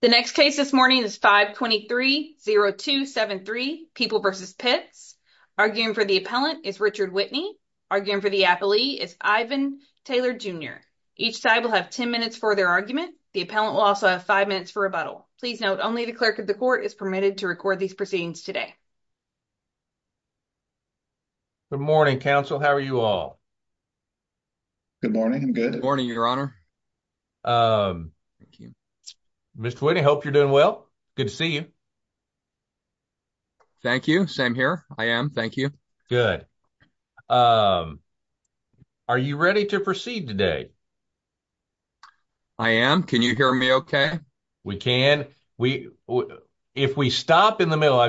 The next case this morning is 523-0273, People v. Pitts. Arguing for the appellant is Richard Whitney. Arguing for the appellee is Ivan Taylor Jr. Each side will have 10 minutes for their argument. The appellant will also have 5 minutes for rebuttal. Please note, only the clerk of the court is permitted to record these proceedings today. Good morning, counsel. How are you all? Good morning. I'm good. Good morning, your honor. Thank you. Mr. Whitney, hope you're doing well. Good to see you. Thank you. Same here. I am. Thank you. Good. Are you ready to proceed today? I am. Can you hear me okay? We can. If we stop in the middle,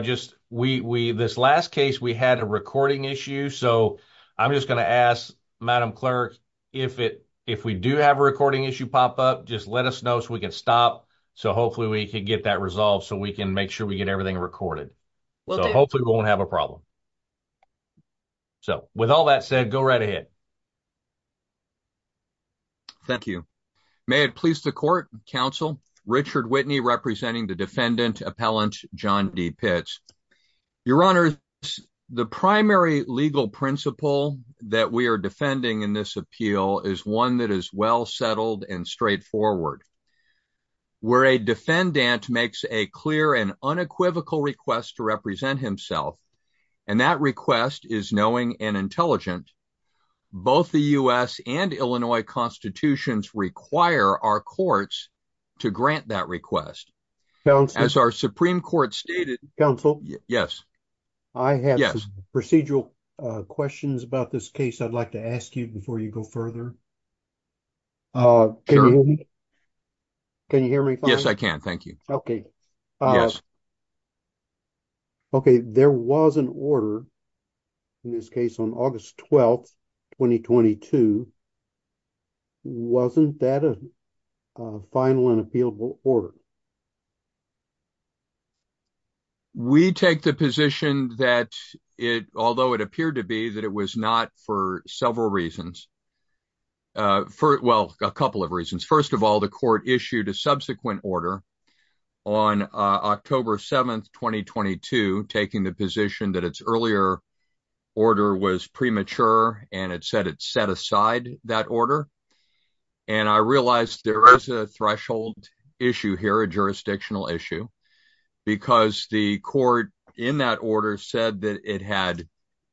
this last case, we had a recording issue, so I'm just going to ask Madam Clerk, if we do have a recording issue pop up, just let us know so we can stop so hopefully we can get that resolved so we can make sure we get everything recorded. So hopefully we won't have a problem. So with all that said, go right ahead. Thank you. May it please the court, counsel, Richard Whitney representing the defendant John D. Pitts. Your honor, the primary legal principle that we are defending in this appeal is one that is well settled and straightforward. Where a defendant makes a clear and unequivocal request to represent himself and that request is knowing and intelligent, both the U.S. and Illinois constitutions require our courts to grant that request. As our Supreme Court stated, counsel, yes, I have procedural questions about this case. I'd like to ask you before you go further. Can you hear me? Yes, I can. Thank you. Okay. Okay. There was an order in this case on August 12, 2022. Wasn't that a final and appealable order? We take the position that it, although it appeared to be that it was not for several reasons. For, well, a couple of reasons. First of all, the court issued a subsequent order on October 7, 2022, taking the position that its earlier order was premature and it said set aside that order. And I realized there is a threshold issue here, a jurisdictional issue, because the court in that order said that it had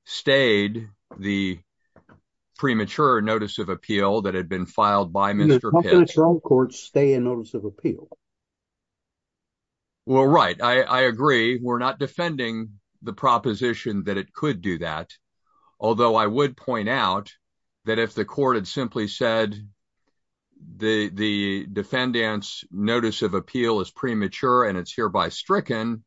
stayed the premature notice of appeal that had been filed by Mr. Pitts. The premature court stay in notice of appeal. Well, right. I agree. We're not defending the proposition that it could do that. Although I would point out that if the court had simply said the defendant's notice of appeal is premature and it's hereby stricken,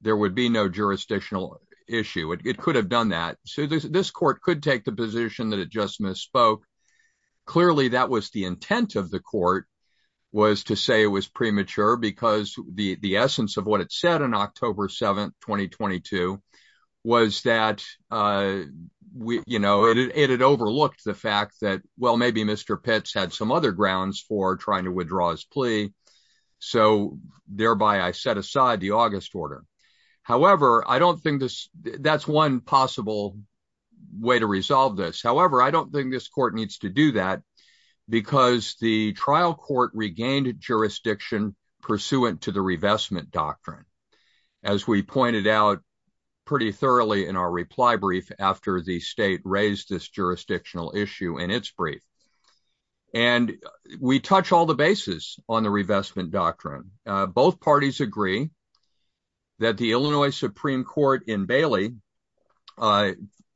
there would be no jurisdictional issue. It could have done that. So this court could take the position that it just misspoke. Clearly, that was the intent of the court was to say it was premature because the essence of what it said on October 7, 2022, was that it had overlooked the fact that, well, maybe Mr. Pitts had some other grounds for trying to withdraw his plea. So thereby I set aside the August order. However, I don't think that's one possible way to resolve this. However, I don't think this court needs to do that because the trial court regained jurisdiction pursuant to the revestment doctrine. As we pointed out pretty thoroughly in our reply brief after the state raised this jurisdictional issue in its brief. And we touch all the bases on the revestment doctrine. Both parties agree that the Illinois Supreme Court in Bailey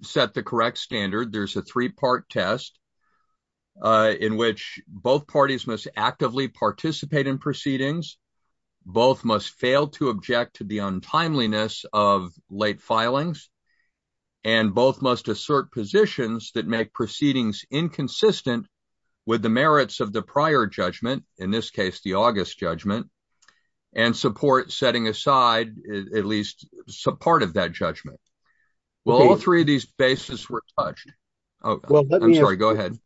set the correct standard. There's a three-part test in which both parties must actively participate in proceedings. Both must fail to object to the untimeliness of late filings. And both must assert positions that make proceedings inconsistent with the merits of the prior judgment, in this case, the August judgment, and support setting aside at least some part of that judgment. Well, all three of these bases were touched. I'm sorry, go ahead.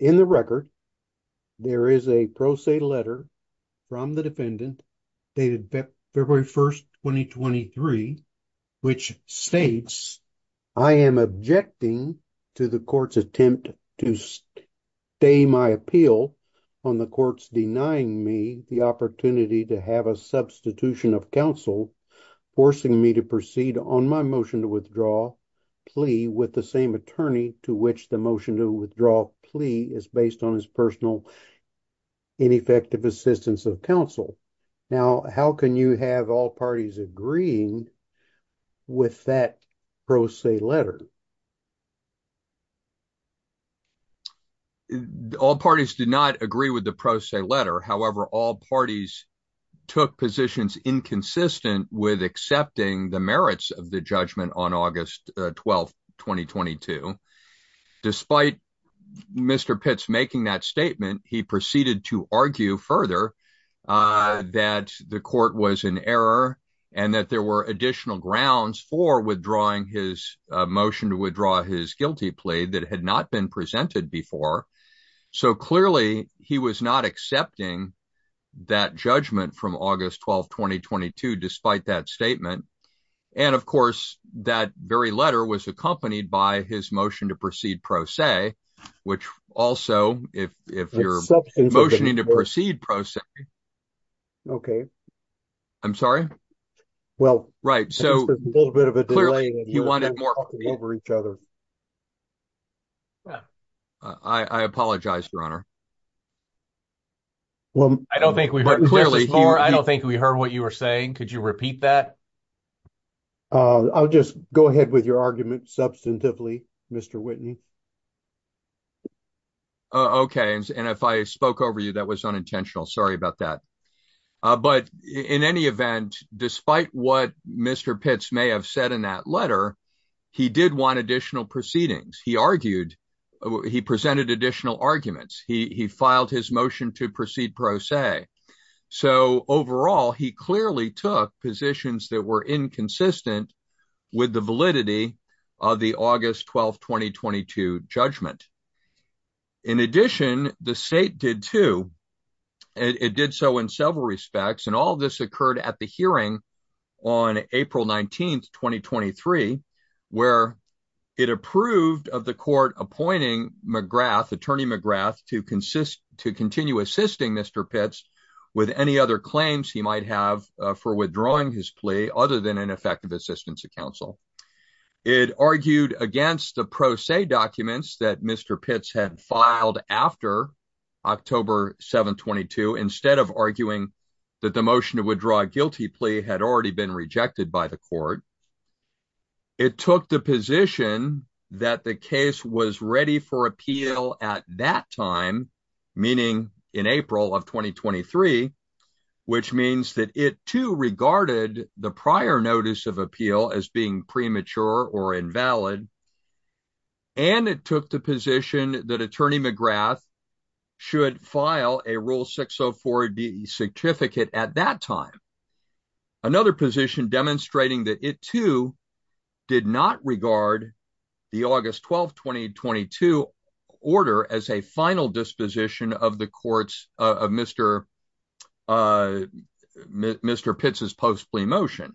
In the record, there is a pro se letter from the defendant dated February 1st, 2023, which states, I am objecting to the court's attempt to stay my appeal on the courts denying me the opportunity to have a substitution of counsel, forcing me to on my motion to withdraw plea with the same attorney to which the motion to withdraw plea is based on his personal ineffective assistance of counsel. Now, how can you have all parties agreeing with that pro se letter? All parties did not agree with the pro se letter. However, all parties took positions inconsistent with accepting the merits of the judgment on August 12th, 2022. Despite Mr. Pitts making that statement, he proceeded to argue further that the court was in error and that there were additional grounds for withdrawing his motion to withdraw his guilty plea that had not been presented before. So clearly, he was not accepting that judgment from August 12th, 2022, despite that statement. And of course, that very letter was accompanied by his motion to proceed pro se, which also, if you're motioning to proceed pro se. Okay. I'm sorry? Well, right. So a little bit of a delay. He wanted more over each other. Yeah. I apologize, Your Honor. Well, I don't think we heard clearly. I don't think we heard what you were saying. Could you repeat that? I'll just go ahead with your argument substantively, Mr. Whitney. Okay. And if I spoke over you, that was unintentional. Sorry about that. But in any event, despite what Mr. Pitts may have said in that letter, he did want additional proceedings. He argued. He presented additional arguments. He filed his motion to proceed pro se. So overall, he clearly took positions that were inconsistent with the validity of the August 12th, 2022 judgment. In addition, the state did too. It did so in several respects. And all of this occurred at the hearing on April 19th, 2023, where it approved of the court appointing McGrath, attorney McGrath to consist to continue assisting Mr. Pitts with any other claims he might have for withdrawing his plea other than an effective assistance to counsel. It argued against the pro se documents that Mr. Pitts had filed after October 722, instead of arguing that the motion to withdraw a guilty plea had already been rejected by the court. It took the position that the case was ready for appeal at that time, meaning in April of 2023, which means that it too regarded the prior notice of appeal as being premature or invalid. And it took the position that attorney McGrath should file a Rule 604B certificate at that time. Another position demonstrating that it too did not regard the August 12, 2022 order as a final disposition of the courts of Mr. Pitts's post plea motion.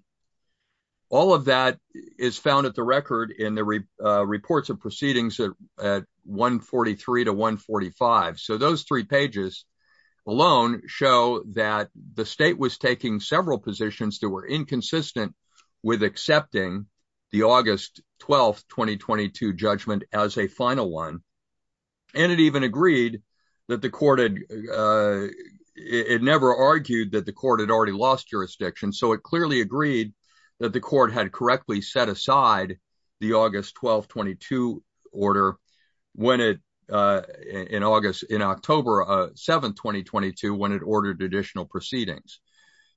All of that is found at the record in the reports of proceedings at 143 to 145. So those three pages alone show that the state was taking several positions that were inconsistent with accepting the August 12, 2022 judgment as a final one. And it even agreed that the court had, it never argued that the court had already lost jurisdiction. So it clearly agreed that the court had correctly set aside the August 12, 2022 order when it, in August, in October 7, 2022, when it ordered additional proceedings.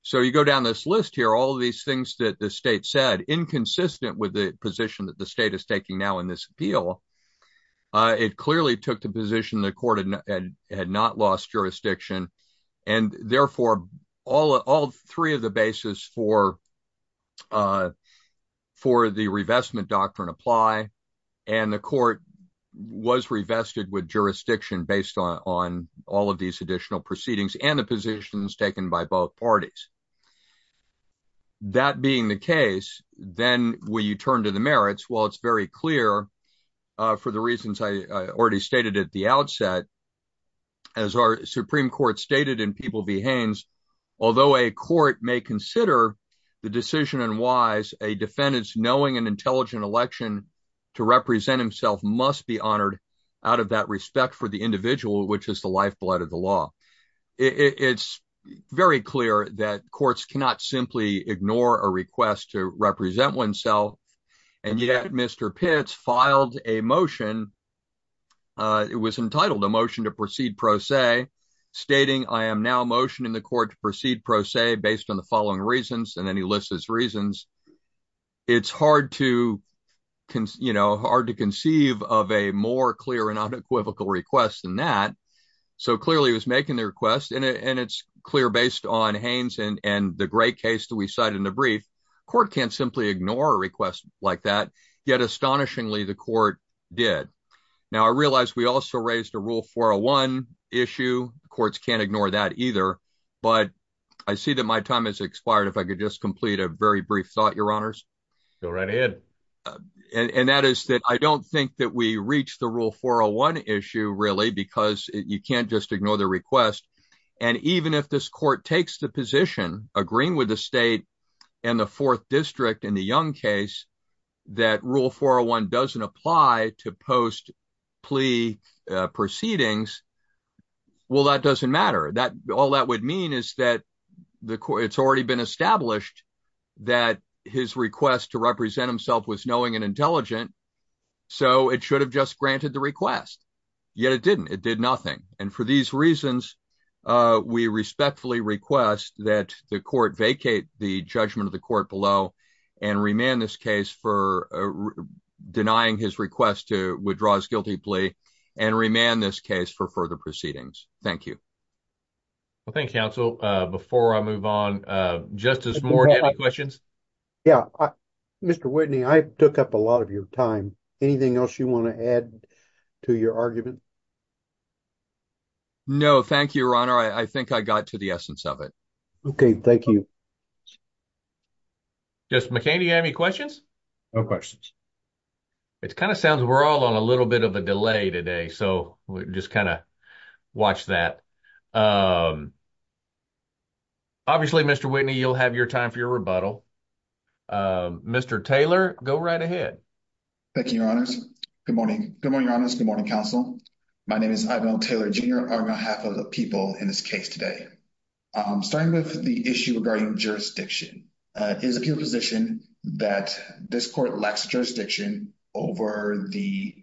So you go down this list here, all of these things that the state said, inconsistent with the position that the state is taking now in this appeal. It clearly took the position the court had not lost jurisdiction. And therefore, all three of the bases for the revestment doctrine apply. And the court was revested with jurisdiction based on all of these additional proceedings and the positions taken by both parties. That being the case, then when you turn to the merits, well, it's very clear for the reasons I already stated at the outset, as our Supreme Court stated in People v. Haynes, although a court may consider the decision and wise, a defendant's knowing and intelligent election to represent himself must be honored out of that respect for the individual, which is the lifeblood of the law. It's very clear that courts cannot simply ignore a request to represent oneself. And yet Mr. Pitts filed a motion, it was entitled a motion to proceed pro se, stating I am now motioning the court to proceed pro se based on the following reasons, and then he lists his reasons. It's hard to conceive of a more clear and unequivocal request than that. So clearly he was making the request and it's clear based on Haynes and the great case we cited in the brief, court can't simply ignore a request like that, yet astonishingly the court did. Now, I realize we also raised a Rule 401 issue, courts can't ignore that either, but I see that my time has expired. If I could just complete a very brief thought, your honors. Go right ahead. And that is that I don't think that we reached the Rule 401 issue really, because you can't just ignore the request. And even if this court takes the position, agreeing with the state and the fourth district in the Young case, that Rule 401 doesn't apply to post plea proceedings, well, that doesn't matter. All that would mean is that it's already been established that his request to represent himself was knowing and intelligent, so it should have just granted the request, yet it didn't, it did nothing. And for these reasons, we respectfully request that the court vacate the judgment of the court below and remand this case for denying his request to withdraw his guilty plea and remand this case for further proceedings. Thank you. Well, thank you, counsel. Before I move on, Justice Moore, do you have any questions? Yeah. Mr. Whitney, I took up a lot of your time. Anything else you want to add to your argument? No, thank you, your honor. I think I got to the essence of it. Okay, thank you. Justice McCain, do you have any questions? No questions. It kind of sounds we're all on a little bit of a delay today, so we just kind of watch that. Obviously, Mr. Whitney, you'll have your time for your rebuttal. Mr. Taylor, go right ahead. Thank you, your honors. Good morning. Good morning, your honors. Good morning, counsel. My name is Ivan O. Taylor, Jr., on behalf of the people in this case today. Starting with the issue regarding jurisdiction, it is the appeal position that this court lacks jurisdiction over the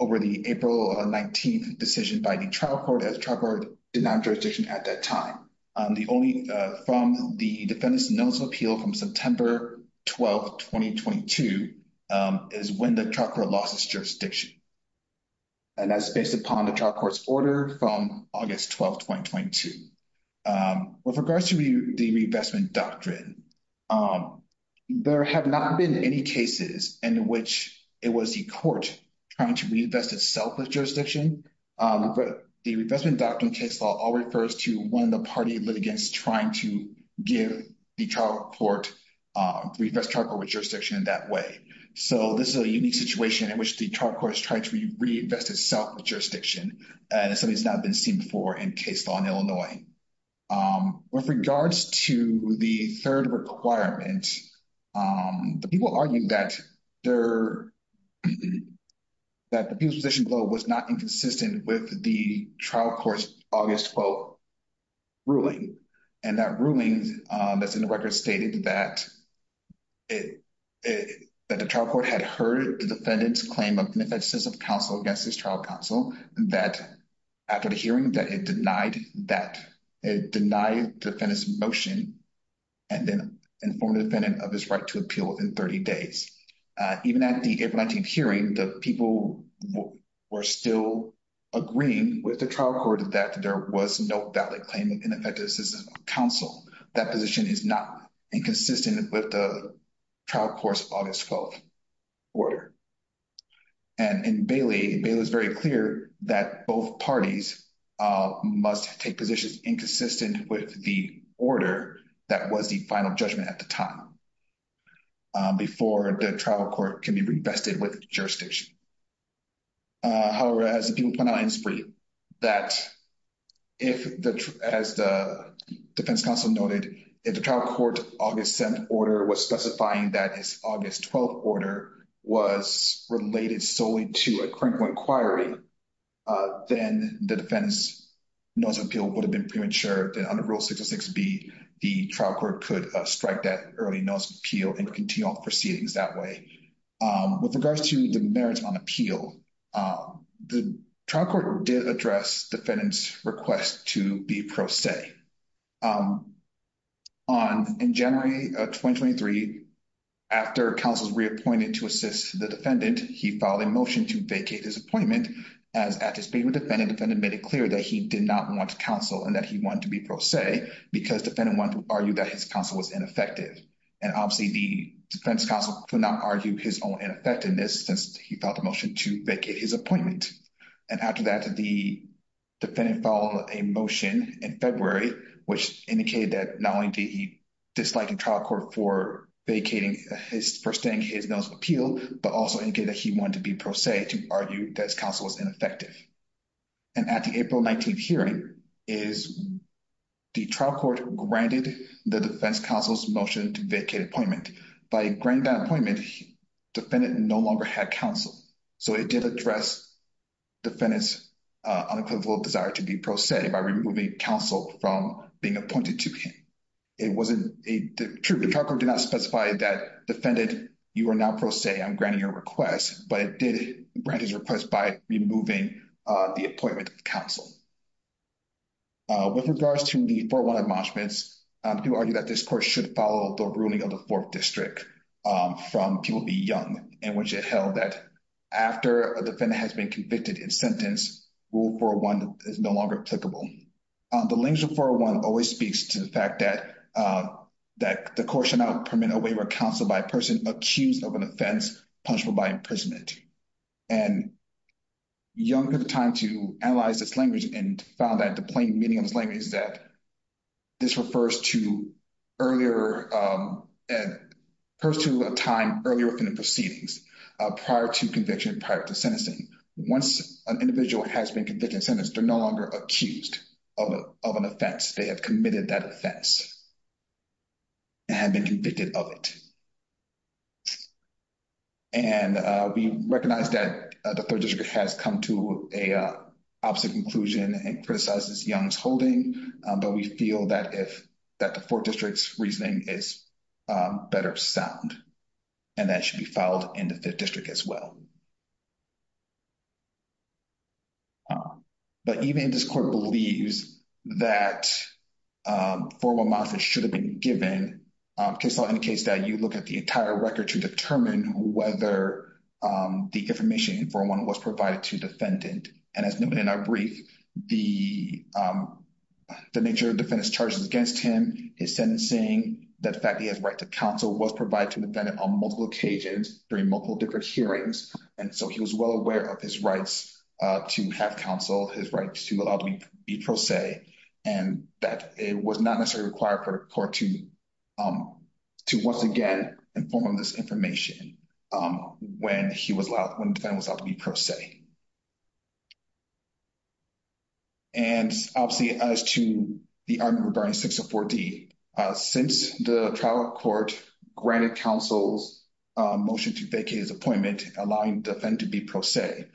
April 19th decision by the trial court, as the trial court did not have jurisdiction at that time. The only, from the defendant's notice of appeal from September 12, 2022, is when the trial court lost its jurisdiction. That's based upon the trial court's order from August 12, 2022. With regards to the reinvestment doctrine, there have not been any cases in which it was the court trying to reinvest itself with jurisdiction, but the reinvestment doctrine case law all refers to when the party litigants trying to give the trial court, reinvest trial court with jurisdiction in that way. This is a unique situation in which the trial court has tried to reinvest itself with jurisdiction, and it's something that's not been seen before in case law in Illinois. With regards to the third requirement, the people argued that the people's position was not inconsistent with the trial court's August 12 ruling, and that ruling that's in the record stated that the trial court had heard the defendant's claim of an offensive counsel against his trial counsel, that after the hearing, that it denied the defendant's motion and then informed the defendant of his right to appeal within 30 days. Even at the April 19th hearing, the people were still agreeing with the trial court that there was no valid claim of ineffective assistance of counsel. That position is not inconsistent with the trial court's August 12 order. In Bailey, it was very clear that both parties must take inconsistent with the order that was the final judgment at the time before the trial court can be reinvested with jurisdiction. However, as the defense counsel noted, if the trial court's August 7th order was specifying that its August 12th order was related solely to a criminal inquiry, then the defendant's notice of appeal would have been premature. Under Rule 606B, the trial court could strike that early notice of appeal and continue on proceedings that way. With regards to the merits on appeal, the trial court did address defendant's request to be pro se. In January of 2023, after counsel was reappointed to assist the defendant, he filed a motion to vacate his appointment. As at his meeting with the defendant, the defendant made it clear that he did not want counsel and that he wanted to be pro se because the defendant wanted to argue that his counsel was ineffective. Obviously, the defense counsel could not argue his own ineffectiveness since he filed a motion to vacate his appointment. After that, the defendant filed a motion in February, which indicated that not only did he dislike the trial court for vacating, for staying his notice of appeal, but also indicated that he wanted to be pro se to argue that his counsel was ineffective. At the April 19th hearing, the trial court granted the defense counsel's motion to vacate appointment. By granting that defendant no longer had counsel, so it did address defendant's unequivocal desire to be pro se by removing counsel from being appointed to him. The trial court did not specify that defendant, you are now pro se, I'm granting your request, but it did grant his request by removing the appointment of counsel. With regards to the 4-1 admonishments, I do argue that this should follow the ruling of the 4th District from People Be Young, in which it held that after a defendant has been convicted in sentence, Rule 401 is no longer applicable. The language of 4-1 always speaks to the fact that the court should not permit a waiver of counsel by a person accused of an offense punishable by imprisonment. Young took the time to analyze this language and found that the plain meaning of this language is that this refers to a time earlier within the proceedings, prior to conviction, prior to sentencing. Once an individual has been convicted in sentence, they're no longer accused of an offense. They have committed that offense and have been convicted of it. We recognize that the 3rd District has come to an opposite conclusion and criticizes Young's holding, but we feel that the 4th District's reasoning is better sound and that it should be filed in the 5th District as well. But even if this court believes that 4-1 months should have been given, case law indicates that you look at the entire record to determine whether the information in 4-1 was provided to the defendant. And as noted in our brief, the nature of the defendant's charges against him, his sentencing, the fact that he has the right to counsel was provided to the defendant on multiple occasions during multiple different hearings. And so he was well aware of his rights to have counsel, his rights to be pro se, and that it was not necessarily required for the court to once again inform him of this information when the defendant was allowed to be pro se. And obviously, as to the argument regarding 604D, since the trial court granted counsel's motion to vacate his appointment, allowing the defendant to be pro se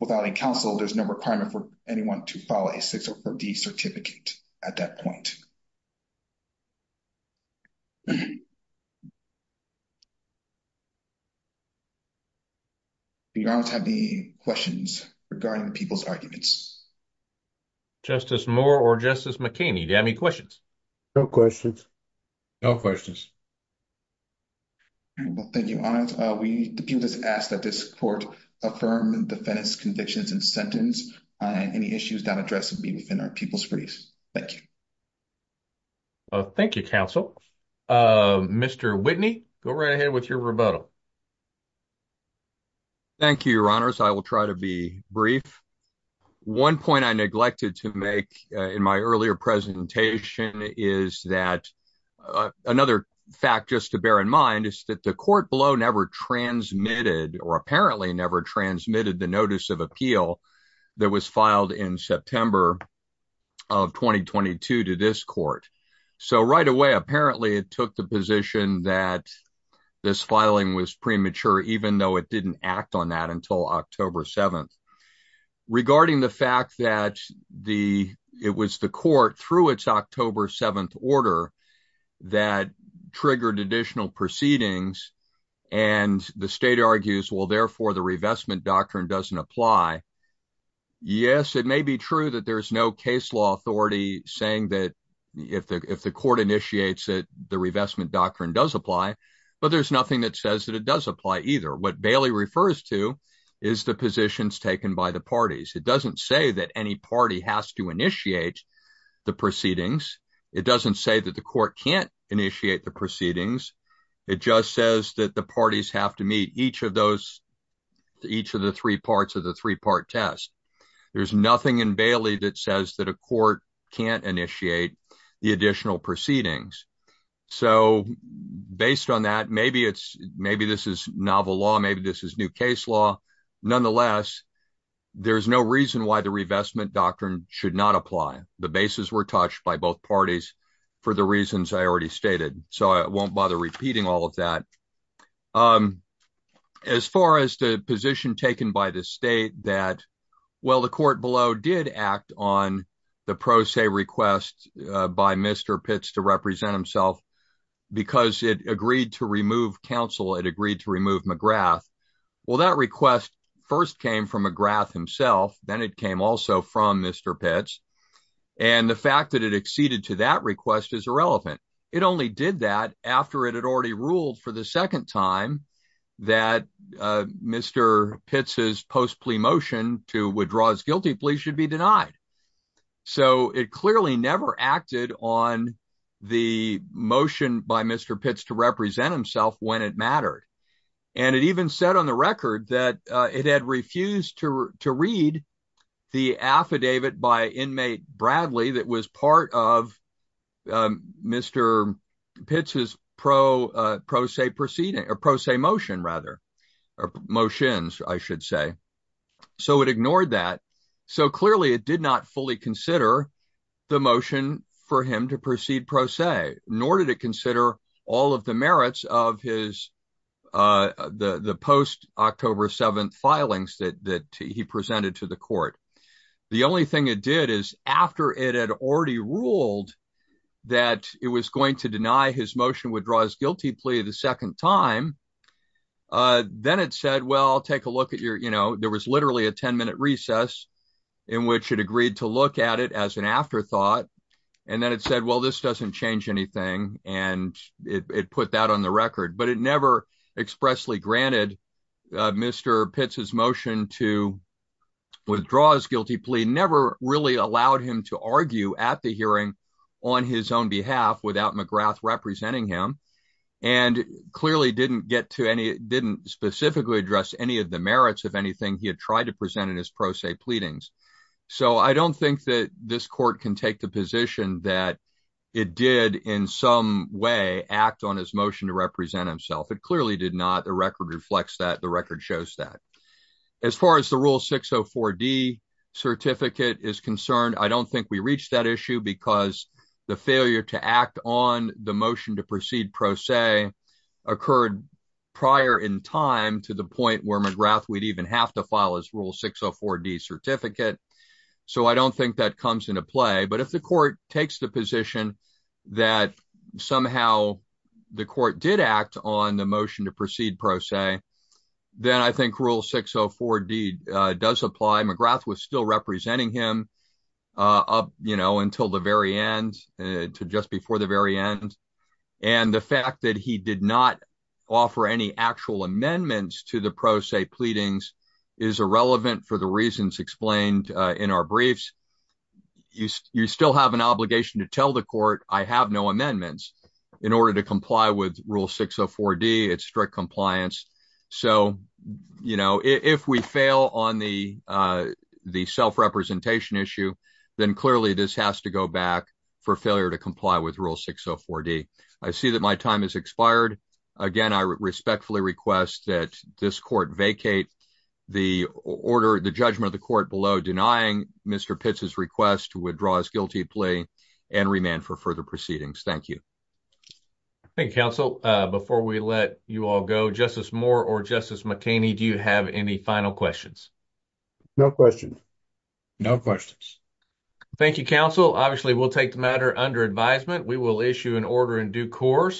without any counsel, there's no requirement for anyone to file a 604D certificate at that point. Do you have any questions regarding the people's arguments? Justice Moore or Justice McKinney, do you have any questions? No questions. Well, thank you, Your Honor. We just ask that this court affirm the defendant's convictions and sentence. Any issues not addressed will be within our people's briefs. Thank you. Well, thank you, counsel. Mr. Whitney, go right ahead with your rebuttal. Thank you, Your Honors. I will try to be brief. One point I neglected to make in my earlier presentation is that another fact just to bear in mind is that the court below never transmitted or apparently never transmitted the notice of appeal that was filed in September of 2022 to this court. So right away, apparently, it took the position that this filing was premature, even though it didn't act on that until October 7th. Regarding the fact that it was the court, through its October 7th order, that triggered additional proceedings, and the state argues, well, therefore, the revestment doctrine doesn't apply. Yes, it may be true that there's no case law authority saying that if the court initiates it, the revestment doctrine does apply, but there's nothing that says that it does apply either. What Bailey refers to is the positions taken by the parties. It doesn't say that any party has to initiate the proceedings. It doesn't say that the court can't initiate the proceedings. It just says that the parties have to meet each of those each of the three parts of the three-part test. There's nothing in Bailey that says that a court can't initiate the additional proceedings. So based on that, maybe this is novel law, maybe this is new case law. Nonetheless, there's no reason why the revestment doctrine should not apply. The bases were touched by both parties for the reasons I already stated, so I won't bother repeating all of that. As far as the position taken by the state that, well, the court below did act on the pro se request by Mr. Pitts to represent himself because it agreed to remove counsel, it agreed to remove McGrath. Well, that request first came from McGrath himself, then it came also from Mr. Pitts, and the fact that it acceded to that request is irrelevant. It only did that after it had already ruled for the second time that Mr. Pitts's post-plea motion to withdraw his guilty plea should be denied. So it clearly never acted on the motion by Mr. Pitts to represent himself when it mattered, and it even said on the record that it had refused to read the affidavit by inmate Bradley that was part of Mr. Pitts's pro se motion. So it ignored that. So clearly it did not fully consider the motion for him to proceed pro se, nor did it court. The only thing it did is after it had already ruled that it was going to deny his motion to withdraw his guilty plea the second time, then it said, well, I'll take a look at your, you know, there was literally a 10-minute recess in which it agreed to look at it as an afterthought, and then it said, well, this doesn't change anything, and it put that on the record. But it never expressly granted Mr. Pitts's motion to withdraw his guilty plea, never really allowed him to argue at the hearing on his own behalf without McGrath representing him, and clearly didn't get to any, didn't specifically address any of the merits of anything he had tried to present in his pro se pleadings. So I don't think that this court can take the position that it did in some way act on his motion to represent himself. It clearly did not. The record reflects that. The record shows that. As far as the Rule 604D certificate is concerned, I don't think we reached that issue because the failure to act on the motion to proceed pro se occurred prior in time to the point where McGrath would even have to file his Rule 604D certificate. So I don't think that comes into play, but if the court takes the position that somehow the court did act on the motion to proceed pro se, then I think Rule 604D does apply. McGrath was still representing him up, you know, until the very end, to just before the very end, and the fact that he did not offer any actual amendments to the pro se pleadings is irrelevant for the reasons explained in our briefs. You still have an obligation to tell the court I have no amendments in order to comply with Rule 604D. It's strict compliance. So, you know, if we fail on the self-representation issue, then clearly this has to go back for failure to comply with Rule 604D. I see that my time has expired. Again, I respectfully request that this court vacate the order, the judgment of the to withdraw his guilty plea and remand for further proceedings. Thank you. Thank you, counsel. Before we let you all go, Justice Moore or Justice McKinney, do you have any final questions? No questions. No questions. Thank you, counsel. Obviously, we'll take the matter under advisement. We will issue an order in due course.